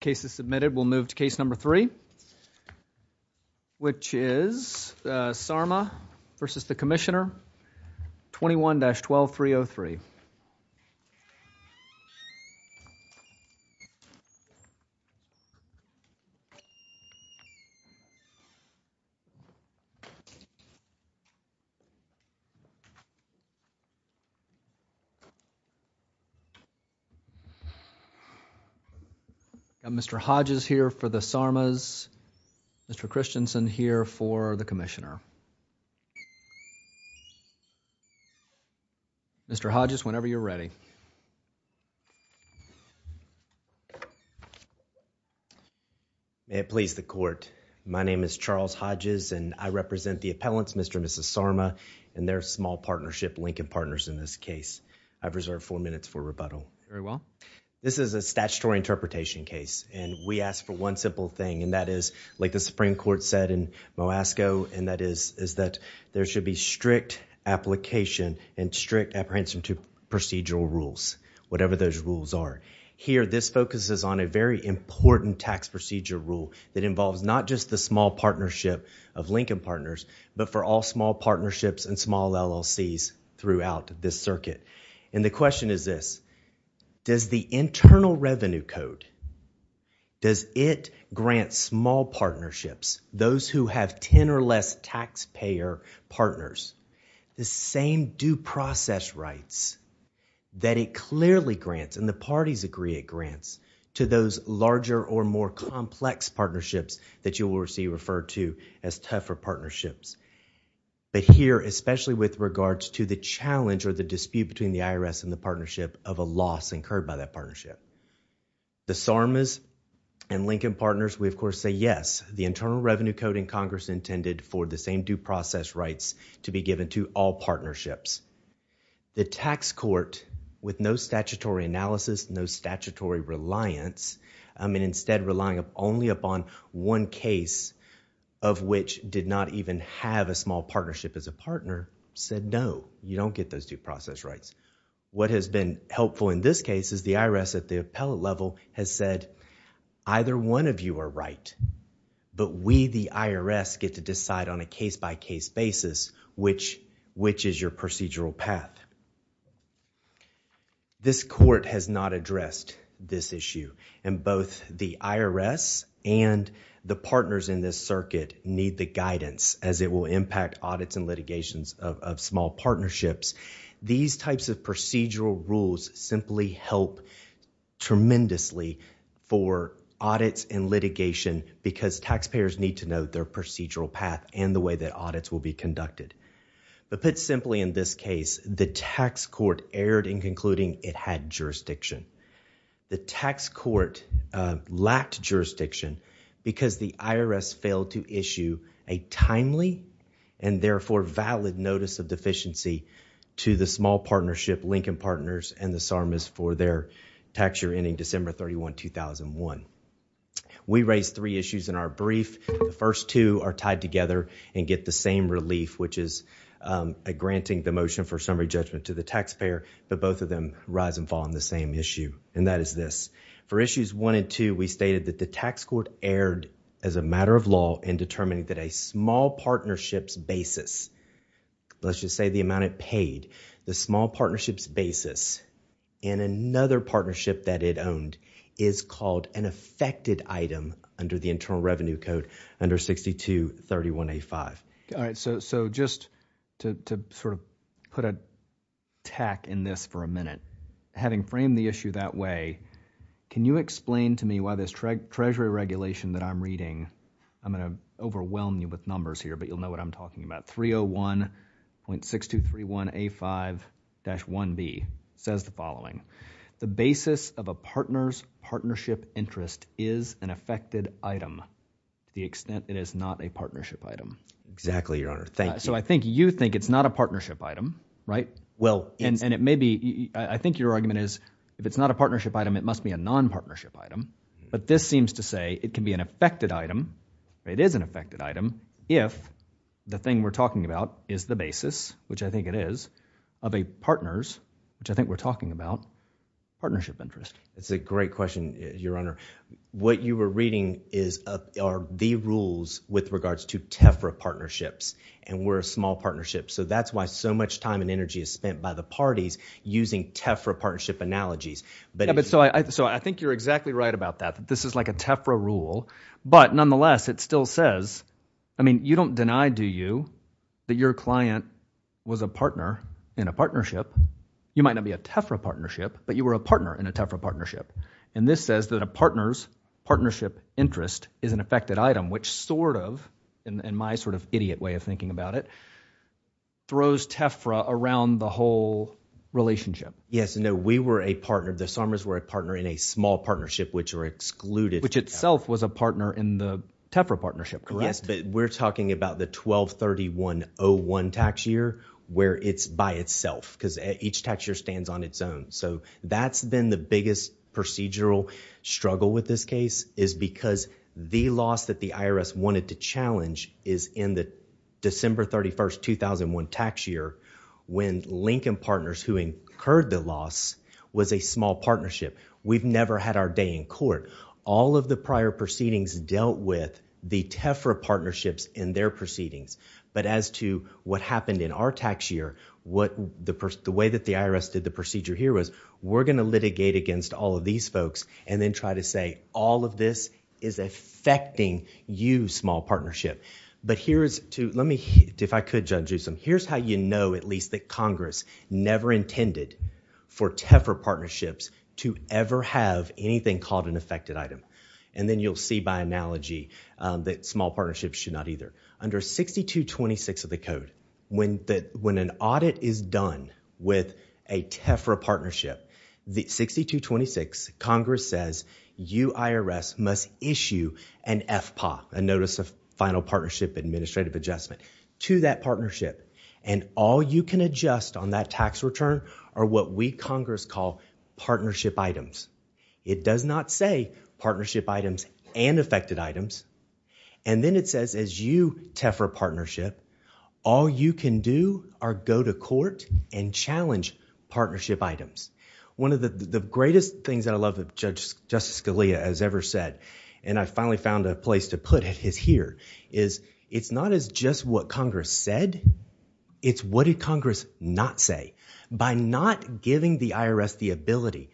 cases submitted we'll move to case number three which is Sarma v. Commissioner 21-12303. We have Mr. Hodges here for the Sarmas, Mr. Christensen here for the Commissioner. Mr. Hodges, whenever you're ready. May it please the Court. My name is Charles Hodges and I represent the appellants, Mr. and Mrs. Sarma and their small partnership, Lincoln Partners, in this case. I've reserved four minutes for rebuttal. Very well. This is a statutory interpretation case and we ask for one simple thing and that is like the Supreme Court said in Moasco and that is that there should be strict application and strict apprehension to procedural rules, whatever those rules are. Here this focuses on a very important tax procedure rule that involves not just the small partnership of Lincoln Partners but for all small partnerships and small LLCs throughout this circuit. The question is this. Does the Internal Revenue Code, does it grant small partnerships, those who have ten or less taxpayer partners, the same due process rights that it clearly grants and the parties agree it grants to those larger or more complex partnerships that you will see referred to as tougher partnerships? But here, especially with regards to the challenge or the dispute between the IRS and the partnership of a loss incurred by that partnership. The Sarmas and Lincoln Partners, we of course say yes, the Internal Revenue Code in Congress intended for the same due process rights to be given to all partnerships. The tax court with no statutory analysis, no statutory reliance, I mean instead relying only upon one case of which did not even have a small partnership as a partner said no, you don't get those due process rights. What has been helpful in this case is the IRS at the appellate level has said either one of you are right but we, the IRS, get to decide on a case-by-case basis which is your procedural path. This court has not addressed this issue and both the IRS and the partners in this circuit need the guidance as it will impact audits and litigations of small partnerships. These types of procedural rules simply help tremendously for audits and litigation because taxpayers need to know their procedural path and the way that audits will be conducted. But put simply in this case, the tax court erred in concluding it had jurisdiction. The tax court lacked jurisdiction because the IRS failed to issue a timely and therefore valid notice of deficiency to the small partnership, Lincoln Partners, and the Sarmis for their tax year ending December 31, 2001. We raised three issues in our brief. The first two are tied together and get the same relief which is granting the motion for summary judgment to the taxpayer but both of them rise and fall on the same issue and that is this. For issues one and two, we stated that the tax court erred as a matter of law in determining that a small partnership's basis, let's just say the amount it paid, the small partnership's basis in another partnership that it owned is called an affected item under the Internal Revenue Code under 6231A5. So just to put a tack in this for a minute, having framed the issue that way, can you explain to me why this Treasury regulation that I'm reading, I'm going to overwhelm you with numbers here but you'll know what I'm talking about, 301.6231A5-1B says the following. The basis of a partner's partnership interest is an affected item to the extent it is not a partnership item. Exactly, Your Honor. Thank you. So I think you think it's not a partnership item, right? Well, it's... And it may be... I think your argument is if it's not a partnership item, it must be a non-partnership item. But this seems to say it can be an affected item, it is an affected item, if the thing we're talking about is the basis, which I think it is, of a partner's, which I think we're talking about, partnership interest. That's a great question, Your Honor. What you were reading are the rules with regards to TEFRA partnerships and we're a small partnership so that's why so much time and energy is spent by the parties using TEFRA partnership analogies. So I think you're exactly right about that, that this is like a TEFRA rule, but nonetheless it still says, I mean, you don't deny, do you, that your client was a partner in a partnership? You might not be a TEFRA partnership, but you were a partner in a TEFRA partnership. And this says that a partner's partnership interest is an affected item, which sort of, in my sort of idiot way of thinking about it, throws TEFRA around the whole relationship. Yes, no, we were a partner, the Sarmers were a partner in a small partnership, which are excluded. Which itself was a partner in the TEFRA partnership, correct? Yes, but we're talking about the 12-31-01 tax year, where it's by itself, because each tax year stands on its own. So that's been the biggest procedural struggle with this case, is because the loss that the IRS wanted to challenge is in the December 31st, 2001 tax year, when Lincoln Partners, who incurred the loss, was a small partnership. We've never had our day in court. All of the prior proceedings dealt with the TEFRA partnerships in their proceedings. But as to what happened in our tax year, the way that the IRS did the procedure here was, we're going to litigate against all of these folks, and then try to say, all of this is affecting you, small partnership. But here is to, let me, if I could, Judge Newsom, here's how you know, at least, that it's never intended for TEFRA partnerships to ever have anything called an affected item. And then you'll see by analogy that small partnerships should not either. Under 6226 of the code, when an audit is done with a TEFRA partnership, the 6226, Congress says you, IRS, must issue an FPA, a Notice of Final Partnership Administrative Adjustment, to that partnership. And all you can adjust on that tax return are what we, Congress, call partnership items. It does not say partnership items and affected items. And then it says, as you, TEFRA partnership, all you can do are go to court and challenge partnership items. One of the greatest things that I love that Justice Scalia has ever said, and I finally found a place to put it, is here, is it's not as just what Congress said, it's what did Congress not say. By not giving the IRS the ability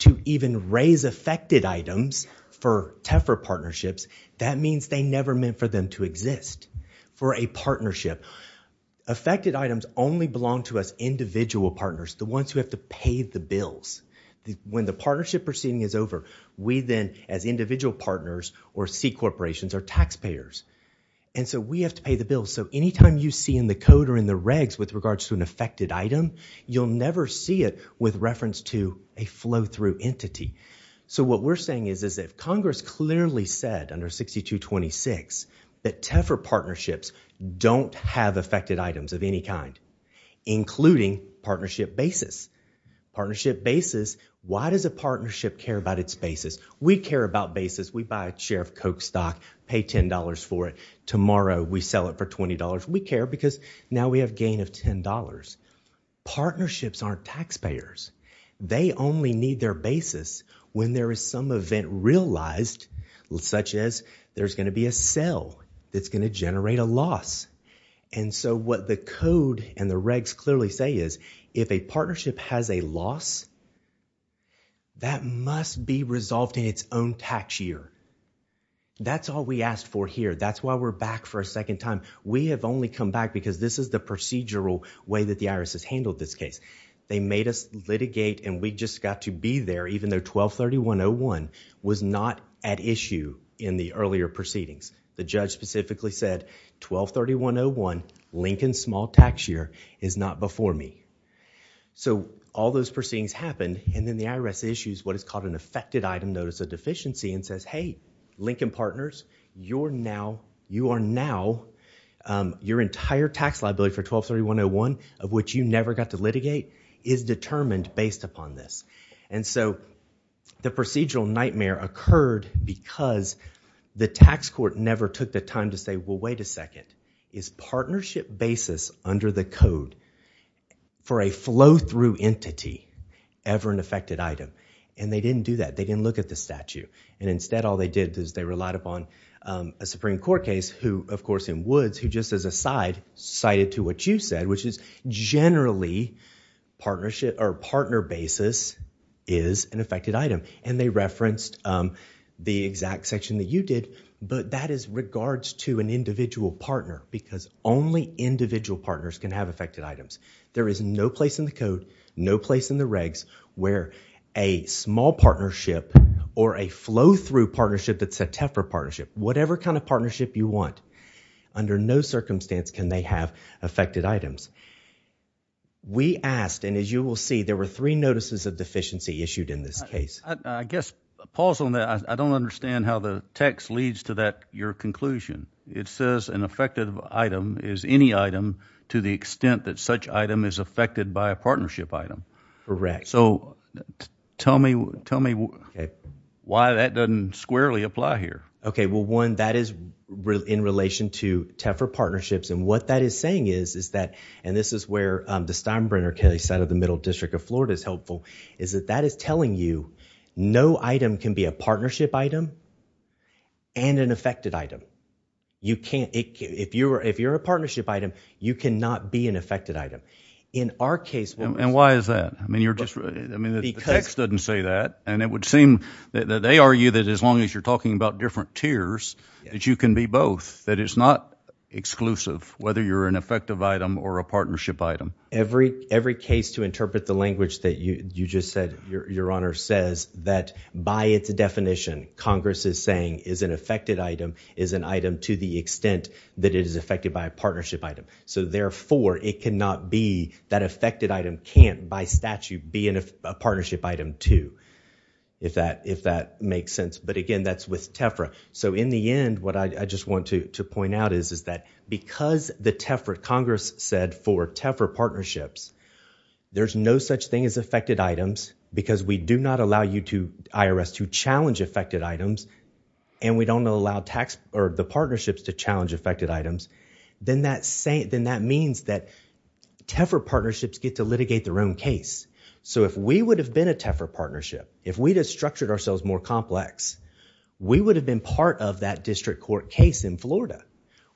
to even raise affected items for TEFRA partnerships, that means they never meant for them to exist. For a partnership, affected items only belong to us individual partners, the ones who have to pay the bills. When the partnership proceeding is over, we then, as individual partners, or C-corporations, or taxpayers, and so we have to pay the bills. So anytime you see in the code or in the regs with regards to an affected item, you'll never see it with reference to a flow-through entity. So what we're saying is, if Congress clearly said, under 6226, that TEFRA partnerships don't have affected items of any kind, including partnership basis. Partnership basis, why does a partnership care about its basis? We care about basis. We buy a share of Coke stock, pay $10 for it, tomorrow we sell it for $20. We care because now we have gain of $10. Partnerships aren't taxpayers. They only need their basis when there is some event realized, such as there's going to be a sell that's going to generate a loss. And so what the code and the regs clearly say is, if a partnership has a loss, that must be resolved in its own tax year. That's all we asked for here. That's why we're back for a second time. We have only come back because this is the procedural way that the IRS has handled this case. They made us litigate and we just got to be there, even though 1231.01 was not at issue in the earlier proceedings. The judge specifically said, 1231.01, Lincoln's small tax year, is not before me. So all those proceedings happened and then the IRS issues what is called an affected item notice of deficiency and says, hey, Lincoln partners, you are now, your entire tax liability for 1231.01, of which you never got to litigate, is determined based upon this. And so, the procedural nightmare occurred because the tax court never took the time to say, well, wait a second, is partnership basis under the code for a flow-through entity ever an affected item? And they didn't do that. They didn't look at the statute. And instead, all they did is they relied upon a Supreme Court case who, of course, in Woods, who just as a side, cited to what you said, which is generally partnership or partner basis is an affected item. And they referenced the exact section that you did, but that is regards to an individual partner because only individual partners can have affected items. There is no place in the code, no place in the regs where a small partnership or a flow-through partnership that's a TEFRA partnership, whatever kind of partnership you want, under no circumstance can they have affected items. We asked, and as you will see, there were three notices of deficiency issued in this case. I guess, a pause on that, I don't understand how the text leads to that, your conclusion. It says an affected item is any item to the extent that such item is affected by a partnership item. Correct. So, tell me why that doesn't squarely apply here. Okay, well, one, that is in relation to TEFRA partnerships and what that is saying is that, and this is where the Steinbrenner case out of the Middle District of Florida is helpful, is that that is telling you no item can be a partnership item and an affected item. You can't, if you're a partnership item, you cannot be an affected item. In our case... And why is that? I mean, you're just... Because... The text doesn't say that and it would seem that they argue that as long as you're talking about different tiers, that you can be both, that it's not exclusive, whether you're an effective item or a partnership item. Every case to interpret the language that you just said, your Honor, says that by its definition, Congress is saying is an affected item is an item to the extent that it is affected by a partnership item. So, therefore, it cannot be that affected item can't, by statute, be a partnership item too, if that makes sense. But, again, that's with TEFRA. So, in the end, what I just want to point out is that because the TEFRA, Congress said for TEFRA partnerships, there's no such thing as affected items because we do not allow you to, IRS, to challenge affected items and we don't allow the partnerships to challenge affected items, then that means that TEFRA partnerships get to litigate their own case. So if we would have been a TEFRA partnership, if we had structured ourselves more complex, we would have been part of that district court case in Florida.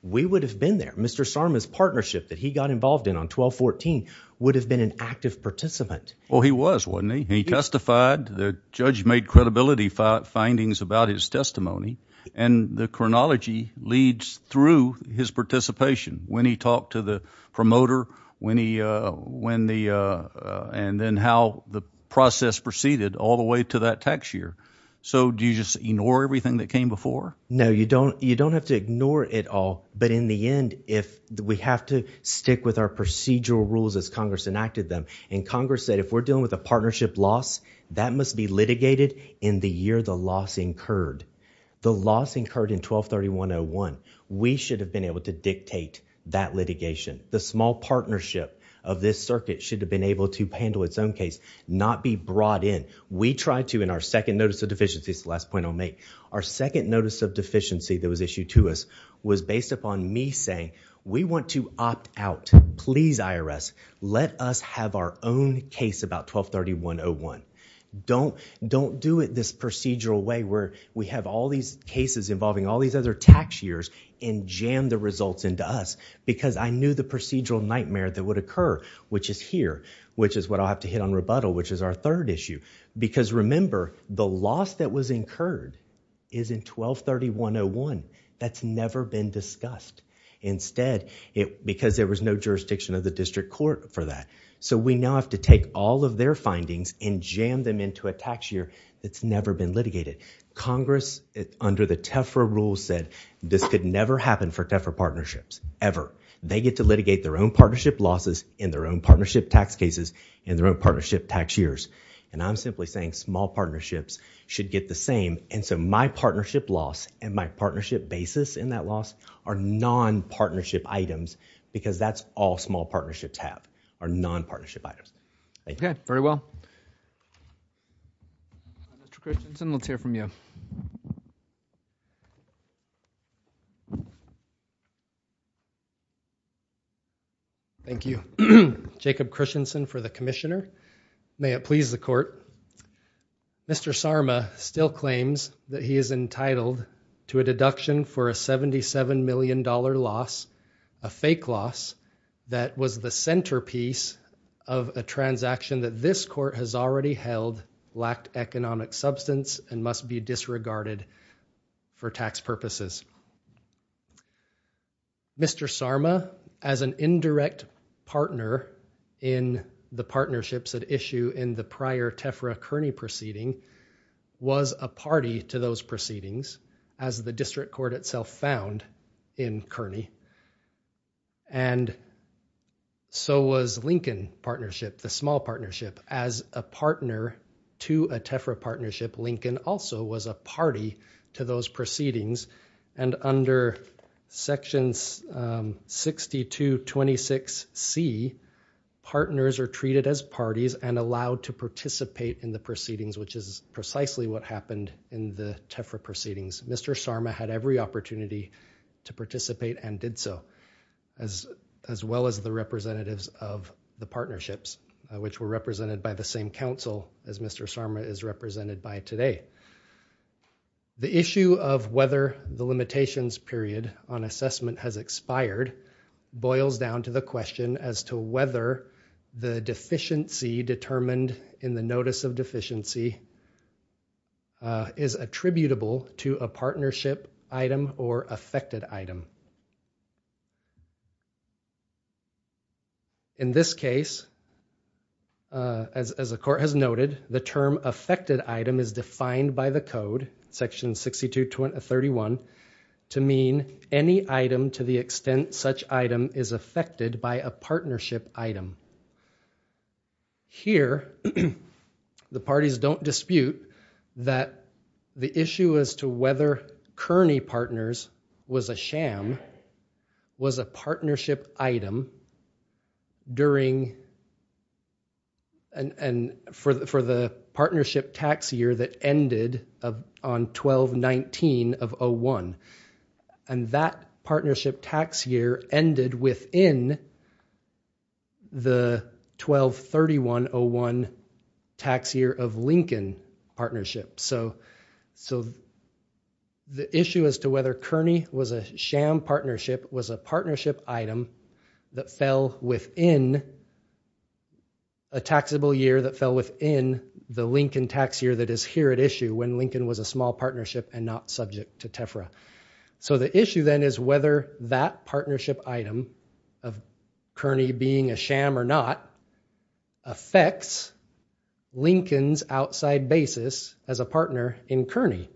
We would have been there. Mr. Sarma's partnership that he got involved in on 12-14 would have been an active participant. Well, he was, wasn't he? He testified, the judge made credibility findings about his testimony and the chronology leads through his participation, when he talked to the promoter, when he, when the, and then how the process proceeded all the way to that tax year. So, do you just ignore everything that came before? No, you don't, you don't have to ignore it all, but in the end, if we have to stick with our procedural rules as Congress enacted them, and Congress said if we're dealing with a partnership loss, that must be litigated in the year the loss incurred. The loss incurred in 12-31-01, we should have been able to dictate that litigation. The small partnership of this circuit should have been able to handle its own case, not be brought in. We tried to in our second notice of deficiency, it's the last point I'll make, our second notice of deficiency that was issued to us was based upon me saying, we want to opt out. Please IRS, let us have our own case about 12-31-01. Don't, don't do it this procedural way where we have all these cases involving all these other tax years and jam the results into us, because I knew the procedural nightmare that would occur, which is here, which is what I'll have to hit on rebuttal, which is our third issue. Because remember, the loss that was incurred is in 12-31-01. That's never been discussed. Instead, it, because there was no jurisdiction of the district court for that. So we now have to take all of their findings and jam them into a tax year that's never been litigated. Congress, under the TEFRA rules, said this could never happen for TEFRA partnerships, ever. They get to litigate their own partnership losses in their own partnership tax cases in their own partnership tax years. And I'm simply saying small partnerships should get the same. And so my partnership loss and my partnership basis in that loss are non-partnership items, because that's all small partnerships have, are non-partnership items. Thank you. Okay. Very well. Mr. Christensen, let's hear from you. Thank you. Jacob Christensen for the commissioner. May it please the court. Mr. Sarma still claims that he is entitled to a deduction for a $77 million loss, a fake loss that was the centerpiece of a transaction that this court has already held, lacked economic substance and must be disregarded for tax purposes. Mr. Sarma, as an indirect partner in the partnerships at issue in the prior TEFRA Kearney proceeding, was a party to those proceedings as the district court itself found in Kearney. And so was Lincoln partnership, the small partnership as a partner to a TEFRA partnership, Lincoln also was a party to those proceedings. And under sections 60 to 26 C, partners are treated as parties and allowed to participate in the proceedings, which is precisely what happened in the TEFRA proceedings. Mr. Sarma had every opportunity to participate and did so as, as well as the representatives of the partnerships, which were represented by the same council as Mr. Sarma is represented by today. The issue of whether the limitations period on assessment has expired boils down to the case of deficiency is attributable to a partnership item or affected item. In this case, as the court has noted, the term affected item is defined by the code section 62 to 31 to mean any item to the extent such item is affected by a partnership item. Here, the parties don't dispute that the issue as to whether Kearney partners was a sham was a partnership item during, and for the partnership tax year that ended on 12-19 of And that partnership tax year ended within the 12-31-01 tax year of Lincoln partnership. So the issue as to whether Kearney was a sham partnership was a partnership item that fell within a taxable year that fell within the Lincoln tax year that is here at issue when So the issue then is whether that partnership item of Kearney being a sham or not affects Lincoln's outside basis as a partner in Kearney.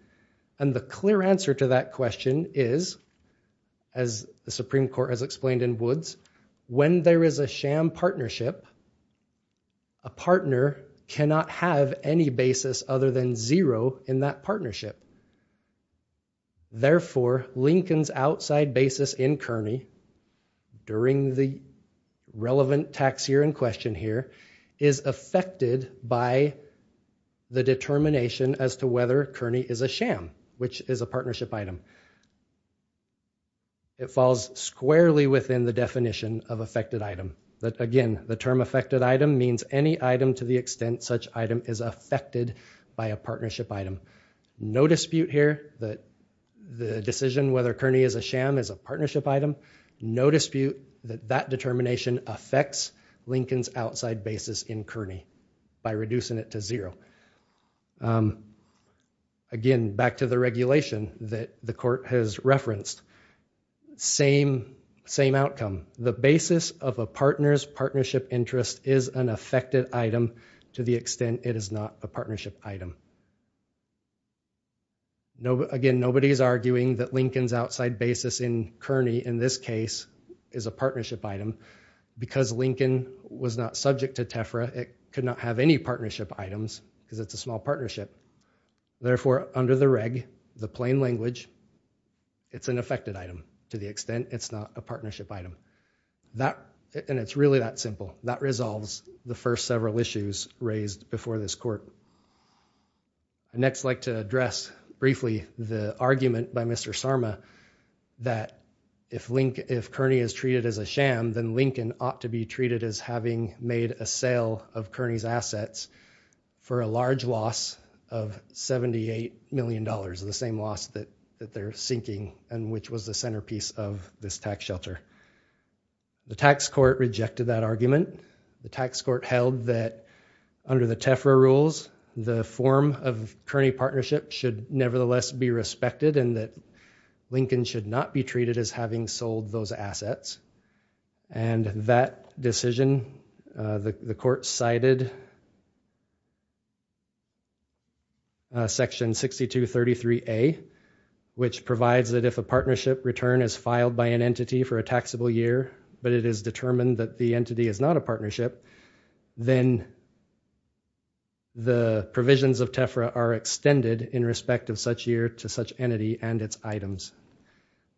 And the clear answer to that question is, as the Supreme Court has explained in Woods, when there is a sham partnership, a partner cannot have any basis other than zero in that Therefore, Lincoln's outside basis in Kearney during the relevant tax year in question here is affected by the determination as to whether Kearney is a sham, which is a partnership item. It falls squarely within the definition of affected item, but again, the term affected item means any item to the extent such item is affected by a partnership item. No dispute here that the decision whether Kearney is a sham is a partnership item. No dispute that that determination affects Lincoln's outside basis in Kearney by reducing it to zero. Again, back to the regulation that the court has referenced, same outcome. The basis of a partner's partnership interest is an affected item to the extent it is not a partnership item. Again, nobody is arguing that Lincoln's outside basis in Kearney in this case is a partnership item. Because Lincoln was not subject to TEFRA, it could not have any partnership items because it's a small partnership. Therefore, under the reg, the plain language, it's an affected item to the extent it's not a partnership item. And it's really that simple. That resolves the first several issues raised before this court. I'd next like to address briefly the argument by Mr. Sarma that if Kearney is treated as a sham, then Lincoln ought to be treated as having made a sale of Kearney's assets for a large loss of $78 million, the same loss that they're seeking and which was the centerpiece of this tax shelter. The tax court rejected that argument. The tax court held that under the TEFRA rules, the form of Kearney partnership should nevertheless be respected and that Lincoln should not be treated as having sold those assets. And that decision, the court cited section 6233A, which provides that if a partnership return is filed by an entity for a taxable year, but it is determined that the entity is not a partnership, then the provisions of TEFRA are extended in respect of such year to such entity and its items.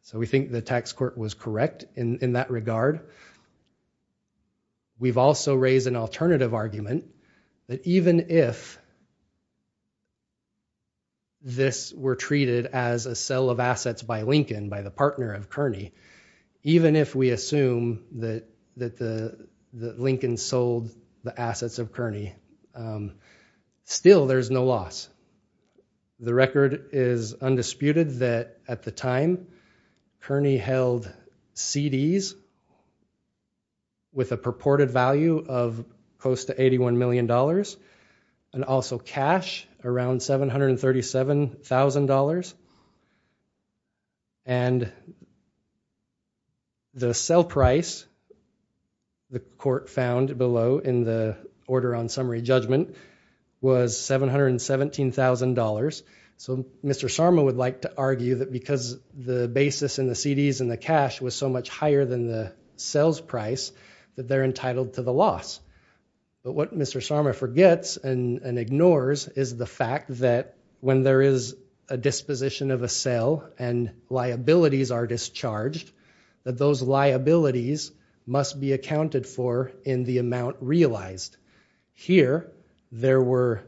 So we think the tax court was correct in that regard. We've also raised an alternative argument that even if this were treated as a sale of the partner of Kearney, even if we assume that Lincoln sold the assets of Kearney, still there's no loss. The record is undisputed that at the time Kearney held CDs with a purported value of close to $81 million and also cash around $737,000 and the sale price, the court found below in the order on summary judgment, was $717,000. So Mr. Sarma would like to argue that because the basis in the CDs and the cash was so much higher than the sales price, that they're entitled to the loss. But what Mr. Sarma forgets and ignores is the fact that when there is a disposition of a sale and liabilities are discharged, that those liabilities must be accounted for in the amount realized. Here there were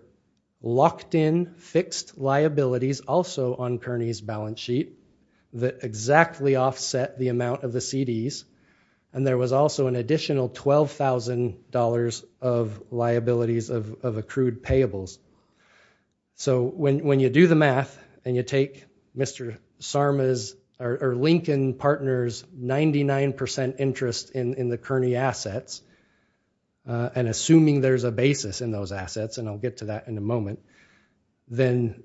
locked in fixed liabilities also on Kearney's balance sheet that exactly offset the amount of the CDs and there was also an additional $12,000 of liabilities of accrued payables. So when you do the math and you take Mr. Sarma's or Lincoln Partners' 99% interest in the Kearney assets and assuming there's a basis in those assets, and I'll get to that in a moment, then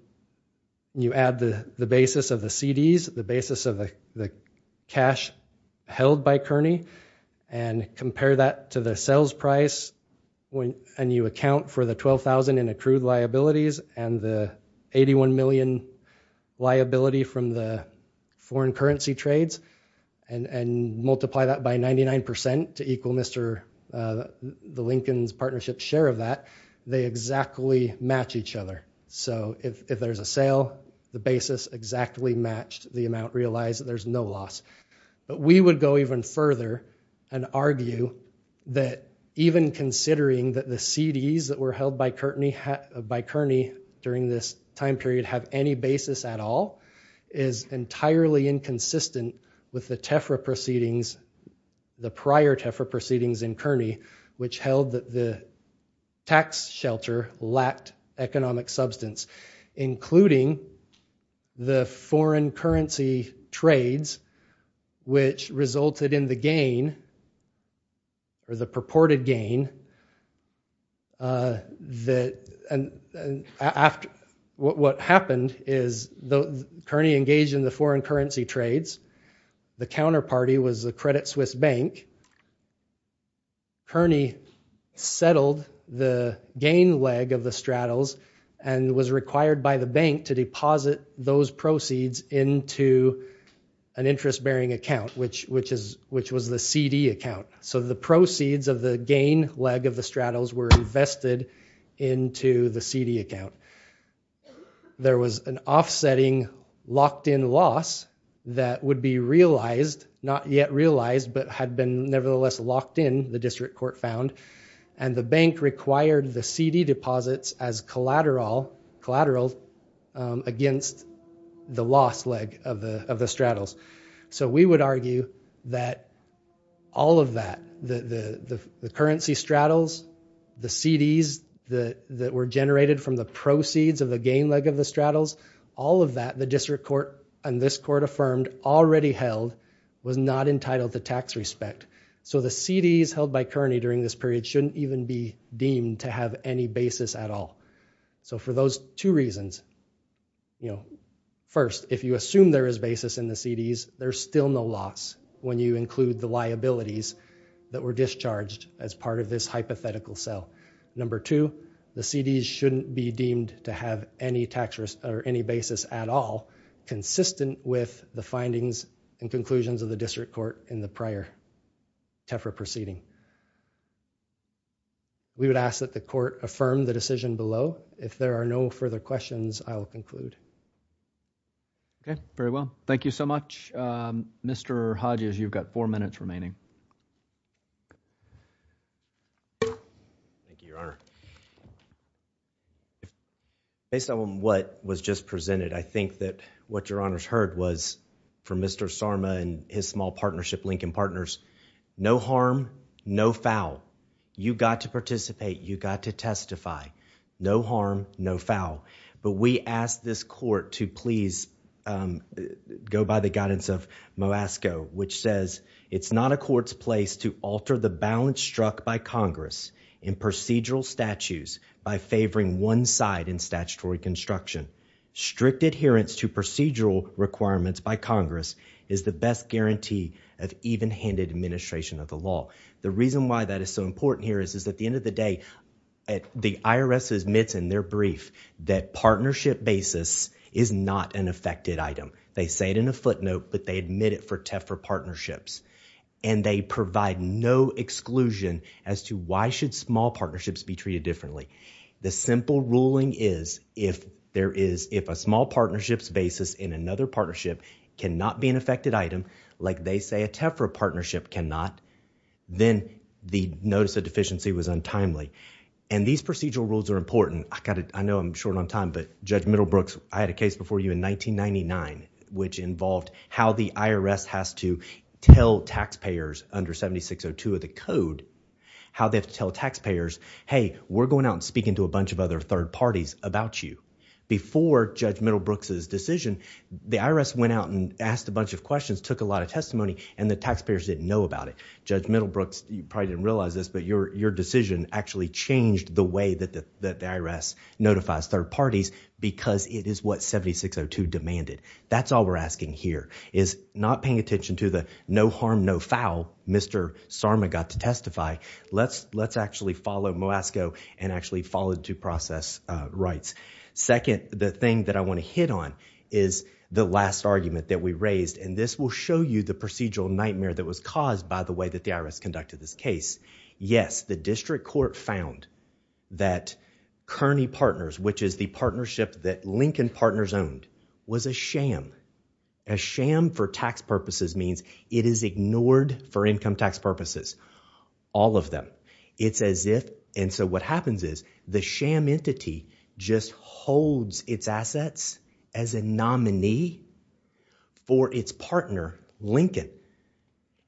you add the basis of the CDs, the basis of the cash held by Kearney, and compare that to the sales price and you account for the $12,000 in accrued liabilities and the $81 million liability from the foreign currency trades, and multiply that by 99% to equal Mr. Lincoln's partnership share of that, they exactly match each other. So if there's a sale, the basis exactly matched the amount realized, there's no loss. But we would go even further and argue that even considering that the CDs that were held by Kearney during this time period have any basis at all, is entirely inconsistent with the Tefra proceedings, the prior Tefra proceedings in Kearney, which held that the tax shelter lacked economic substance, including the foreign currency trades, which resulted in the gain, or the purported gain, that after what happened is Kearney engaged in the foreign currency trades, the counterparty was the Credit Suisse Bank, Kearney settled the gain leg of the straddles and was required by the bank to deposit those proceeds into an interest-bearing account, which was the CD account. So the proceeds of the gain leg of the straddles were invested into the CD account. There was an offsetting locked-in loss that would be realized, not yet realized, but had been nevertheless locked in, the district court found, and the bank required the CD deposits as collateral against the loss leg of the straddles. So we would argue that all of that, the currency straddles, the CDs that were generated from the proceeds of the gain leg of the straddles, all of that the district court and this court affirmed already held was not entitled to tax respect. So the CDs held by Kearney during this period shouldn't even be deemed to have any basis at all. So for those two reasons, first, if you assume there is basis in the CDs, there's still no loss when you include the liabilities that were discharged as part of this hypothetical sale. Number two, the CDs shouldn't be deemed to have any basis at all consistent with the findings and conclusions of the district court in the prior TEFRA proceeding. We would ask that the court affirm the decision below. If there are no further questions, I will conclude. Okay. Very well. Thank you so much. Mr. Hodges, you've got four minutes remaining. Thank you, Your Honor. Based on what was just presented, I think that what Your Honor's heard was from Mr. Sarma and his small partnership, Lincoln Partners, no harm, no foul. You got to participate. You got to testify. No harm, no foul. We ask this court to please go by the guidance of MOASCO, which says it's not a court's place to alter the balance struck by Congress in procedural statutes by favoring one side in statutory construction. Strict adherence to procedural requirements by Congress is the best guarantee of even-handed administration of the law. The reason why that is so important here is at the end of the day, the IRS admits in their brief that partnership basis is not an affected item. They say it in a footnote, but they admit it for TEFRA partnerships. They provide no exclusion as to why should small partnerships be treated differently. The simple ruling is if a small partnership's basis in another partnership cannot be an affected item, like they say a TEFRA partnership cannot, then the notice of deficiency was untimely. These procedural rules are important. I know I'm short on time, but Judge Middlebrooks, I had a case before you in 1999, which involved how the IRS has to tell taxpayers under 7602 of the code, how they have to tell taxpayers, hey, we're going out and speaking to a bunch of other third parties about you. Before Judge Middlebrooks' decision, the IRS went out and asked a bunch of questions, took a lot of testimony, and the taxpayers didn't know about it. Judge Middlebrooks, you probably didn't realize this, but your decision actually changed the way that the IRS notifies third parties because it is what 7602 demanded. That's all we're asking here, is not paying attention to the no harm, no foul Mr. Sarma got to testify. Let's actually follow MOASCO and actually follow due process rights. Second, the thing that I want to hit on is the last argument that we raised, and this will show you the procedural nightmare that was caused by the way that the IRS conducted this case. Yes, the district court found that Kearney Partners, which is the partnership that Lincoln Partners owned, was a sham. A sham for tax purposes means it is ignored for income tax purposes, all of them. It's as if, and so what happens is, the sham entity just holds its assets as a nominee for its partner, Lincoln.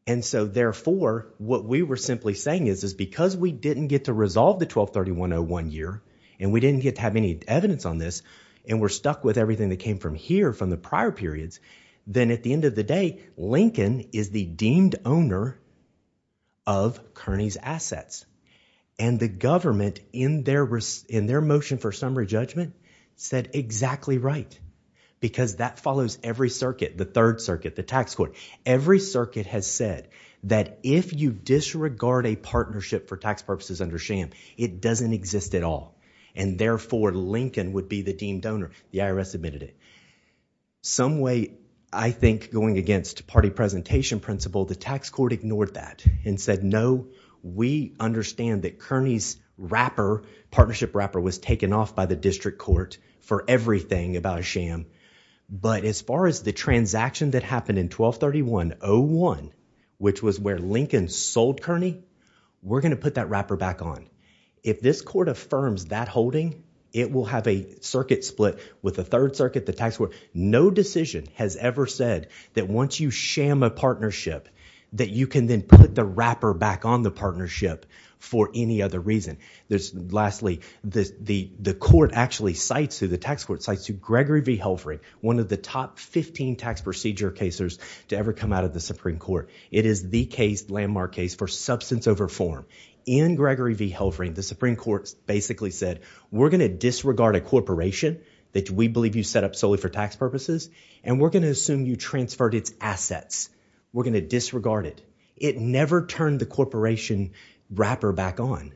And so therefore, what we were simply saying is, is because we didn't get to resolve the 1231-01 year, and we didn't get to have any evidence on this, and we're stuck with everything that came from here, from the prior periods, then at the end of the day, Lincoln is the deemed owner of Kearney's assets. And the government, in their motion for summary judgment, said exactly right. Because that follows every circuit, the third circuit, the tax court. Every circuit has said that if you disregard a partnership for tax purposes under sham, it doesn't exist at all. And therefore, Lincoln would be the deemed donor. The IRS admitted it. Some way, I think, going against party presentation principle, the tax court ignored that and said no, we understand that Kearney's partnership wrapper was taken off by the district court for everything about a sham. But as far as the transaction that happened in 1231-01, which was where Lincoln sold Kearney, we're going to put that wrapper back on. If this court affirms that holding, it will have a circuit split with the third circuit, the tax court. No decision has ever said that once you sham a partnership, that you can then put the wrapper back on the partnership for any other reason. Lastly, the court actually cites, the tax court cites Gregory v. Helfring, one of the top 15 tax procedure casers to ever come out of the Supreme Court. It is the case, landmark case, for substance over form. In Gregory v. Helfring, the Supreme Court basically said, we're going to disregard a corporation that we believe you set up solely for tax purposes, and we're going to assume you transferred its assets. We're going to disregard it. It never turned the corporation wrapper back on,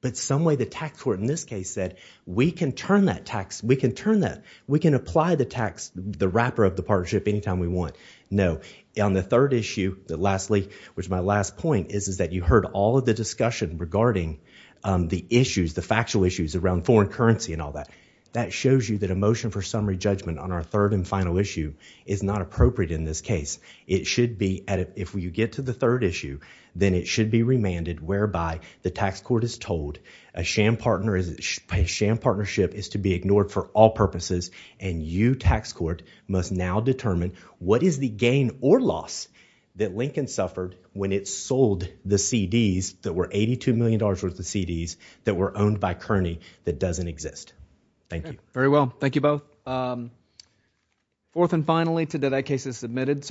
but some way the tax court in this case said, we can turn that, we can apply the wrapper of the partnership anytime we want. No. On the third issue, lastly, which is my last point, is that you heard all of the discussion regarding the issues, the factual issues around foreign currency and all that. That shows you that a motion for summary judgment on our third and final issue is not appropriate in this case. It should be, if you get to the third issue, then it should be remanded whereby the tax court is told a sham partnership is to be ignored for all purposes, and you, tax court, must now determine what is the gain or loss that Lincoln suffered when it sold the CDs that were $82 million worth of CDs that were owned by Kearney that doesn't exist. Thank you. Very well. Thank you both. Fourth and finally, today that case is submitted. Sorry.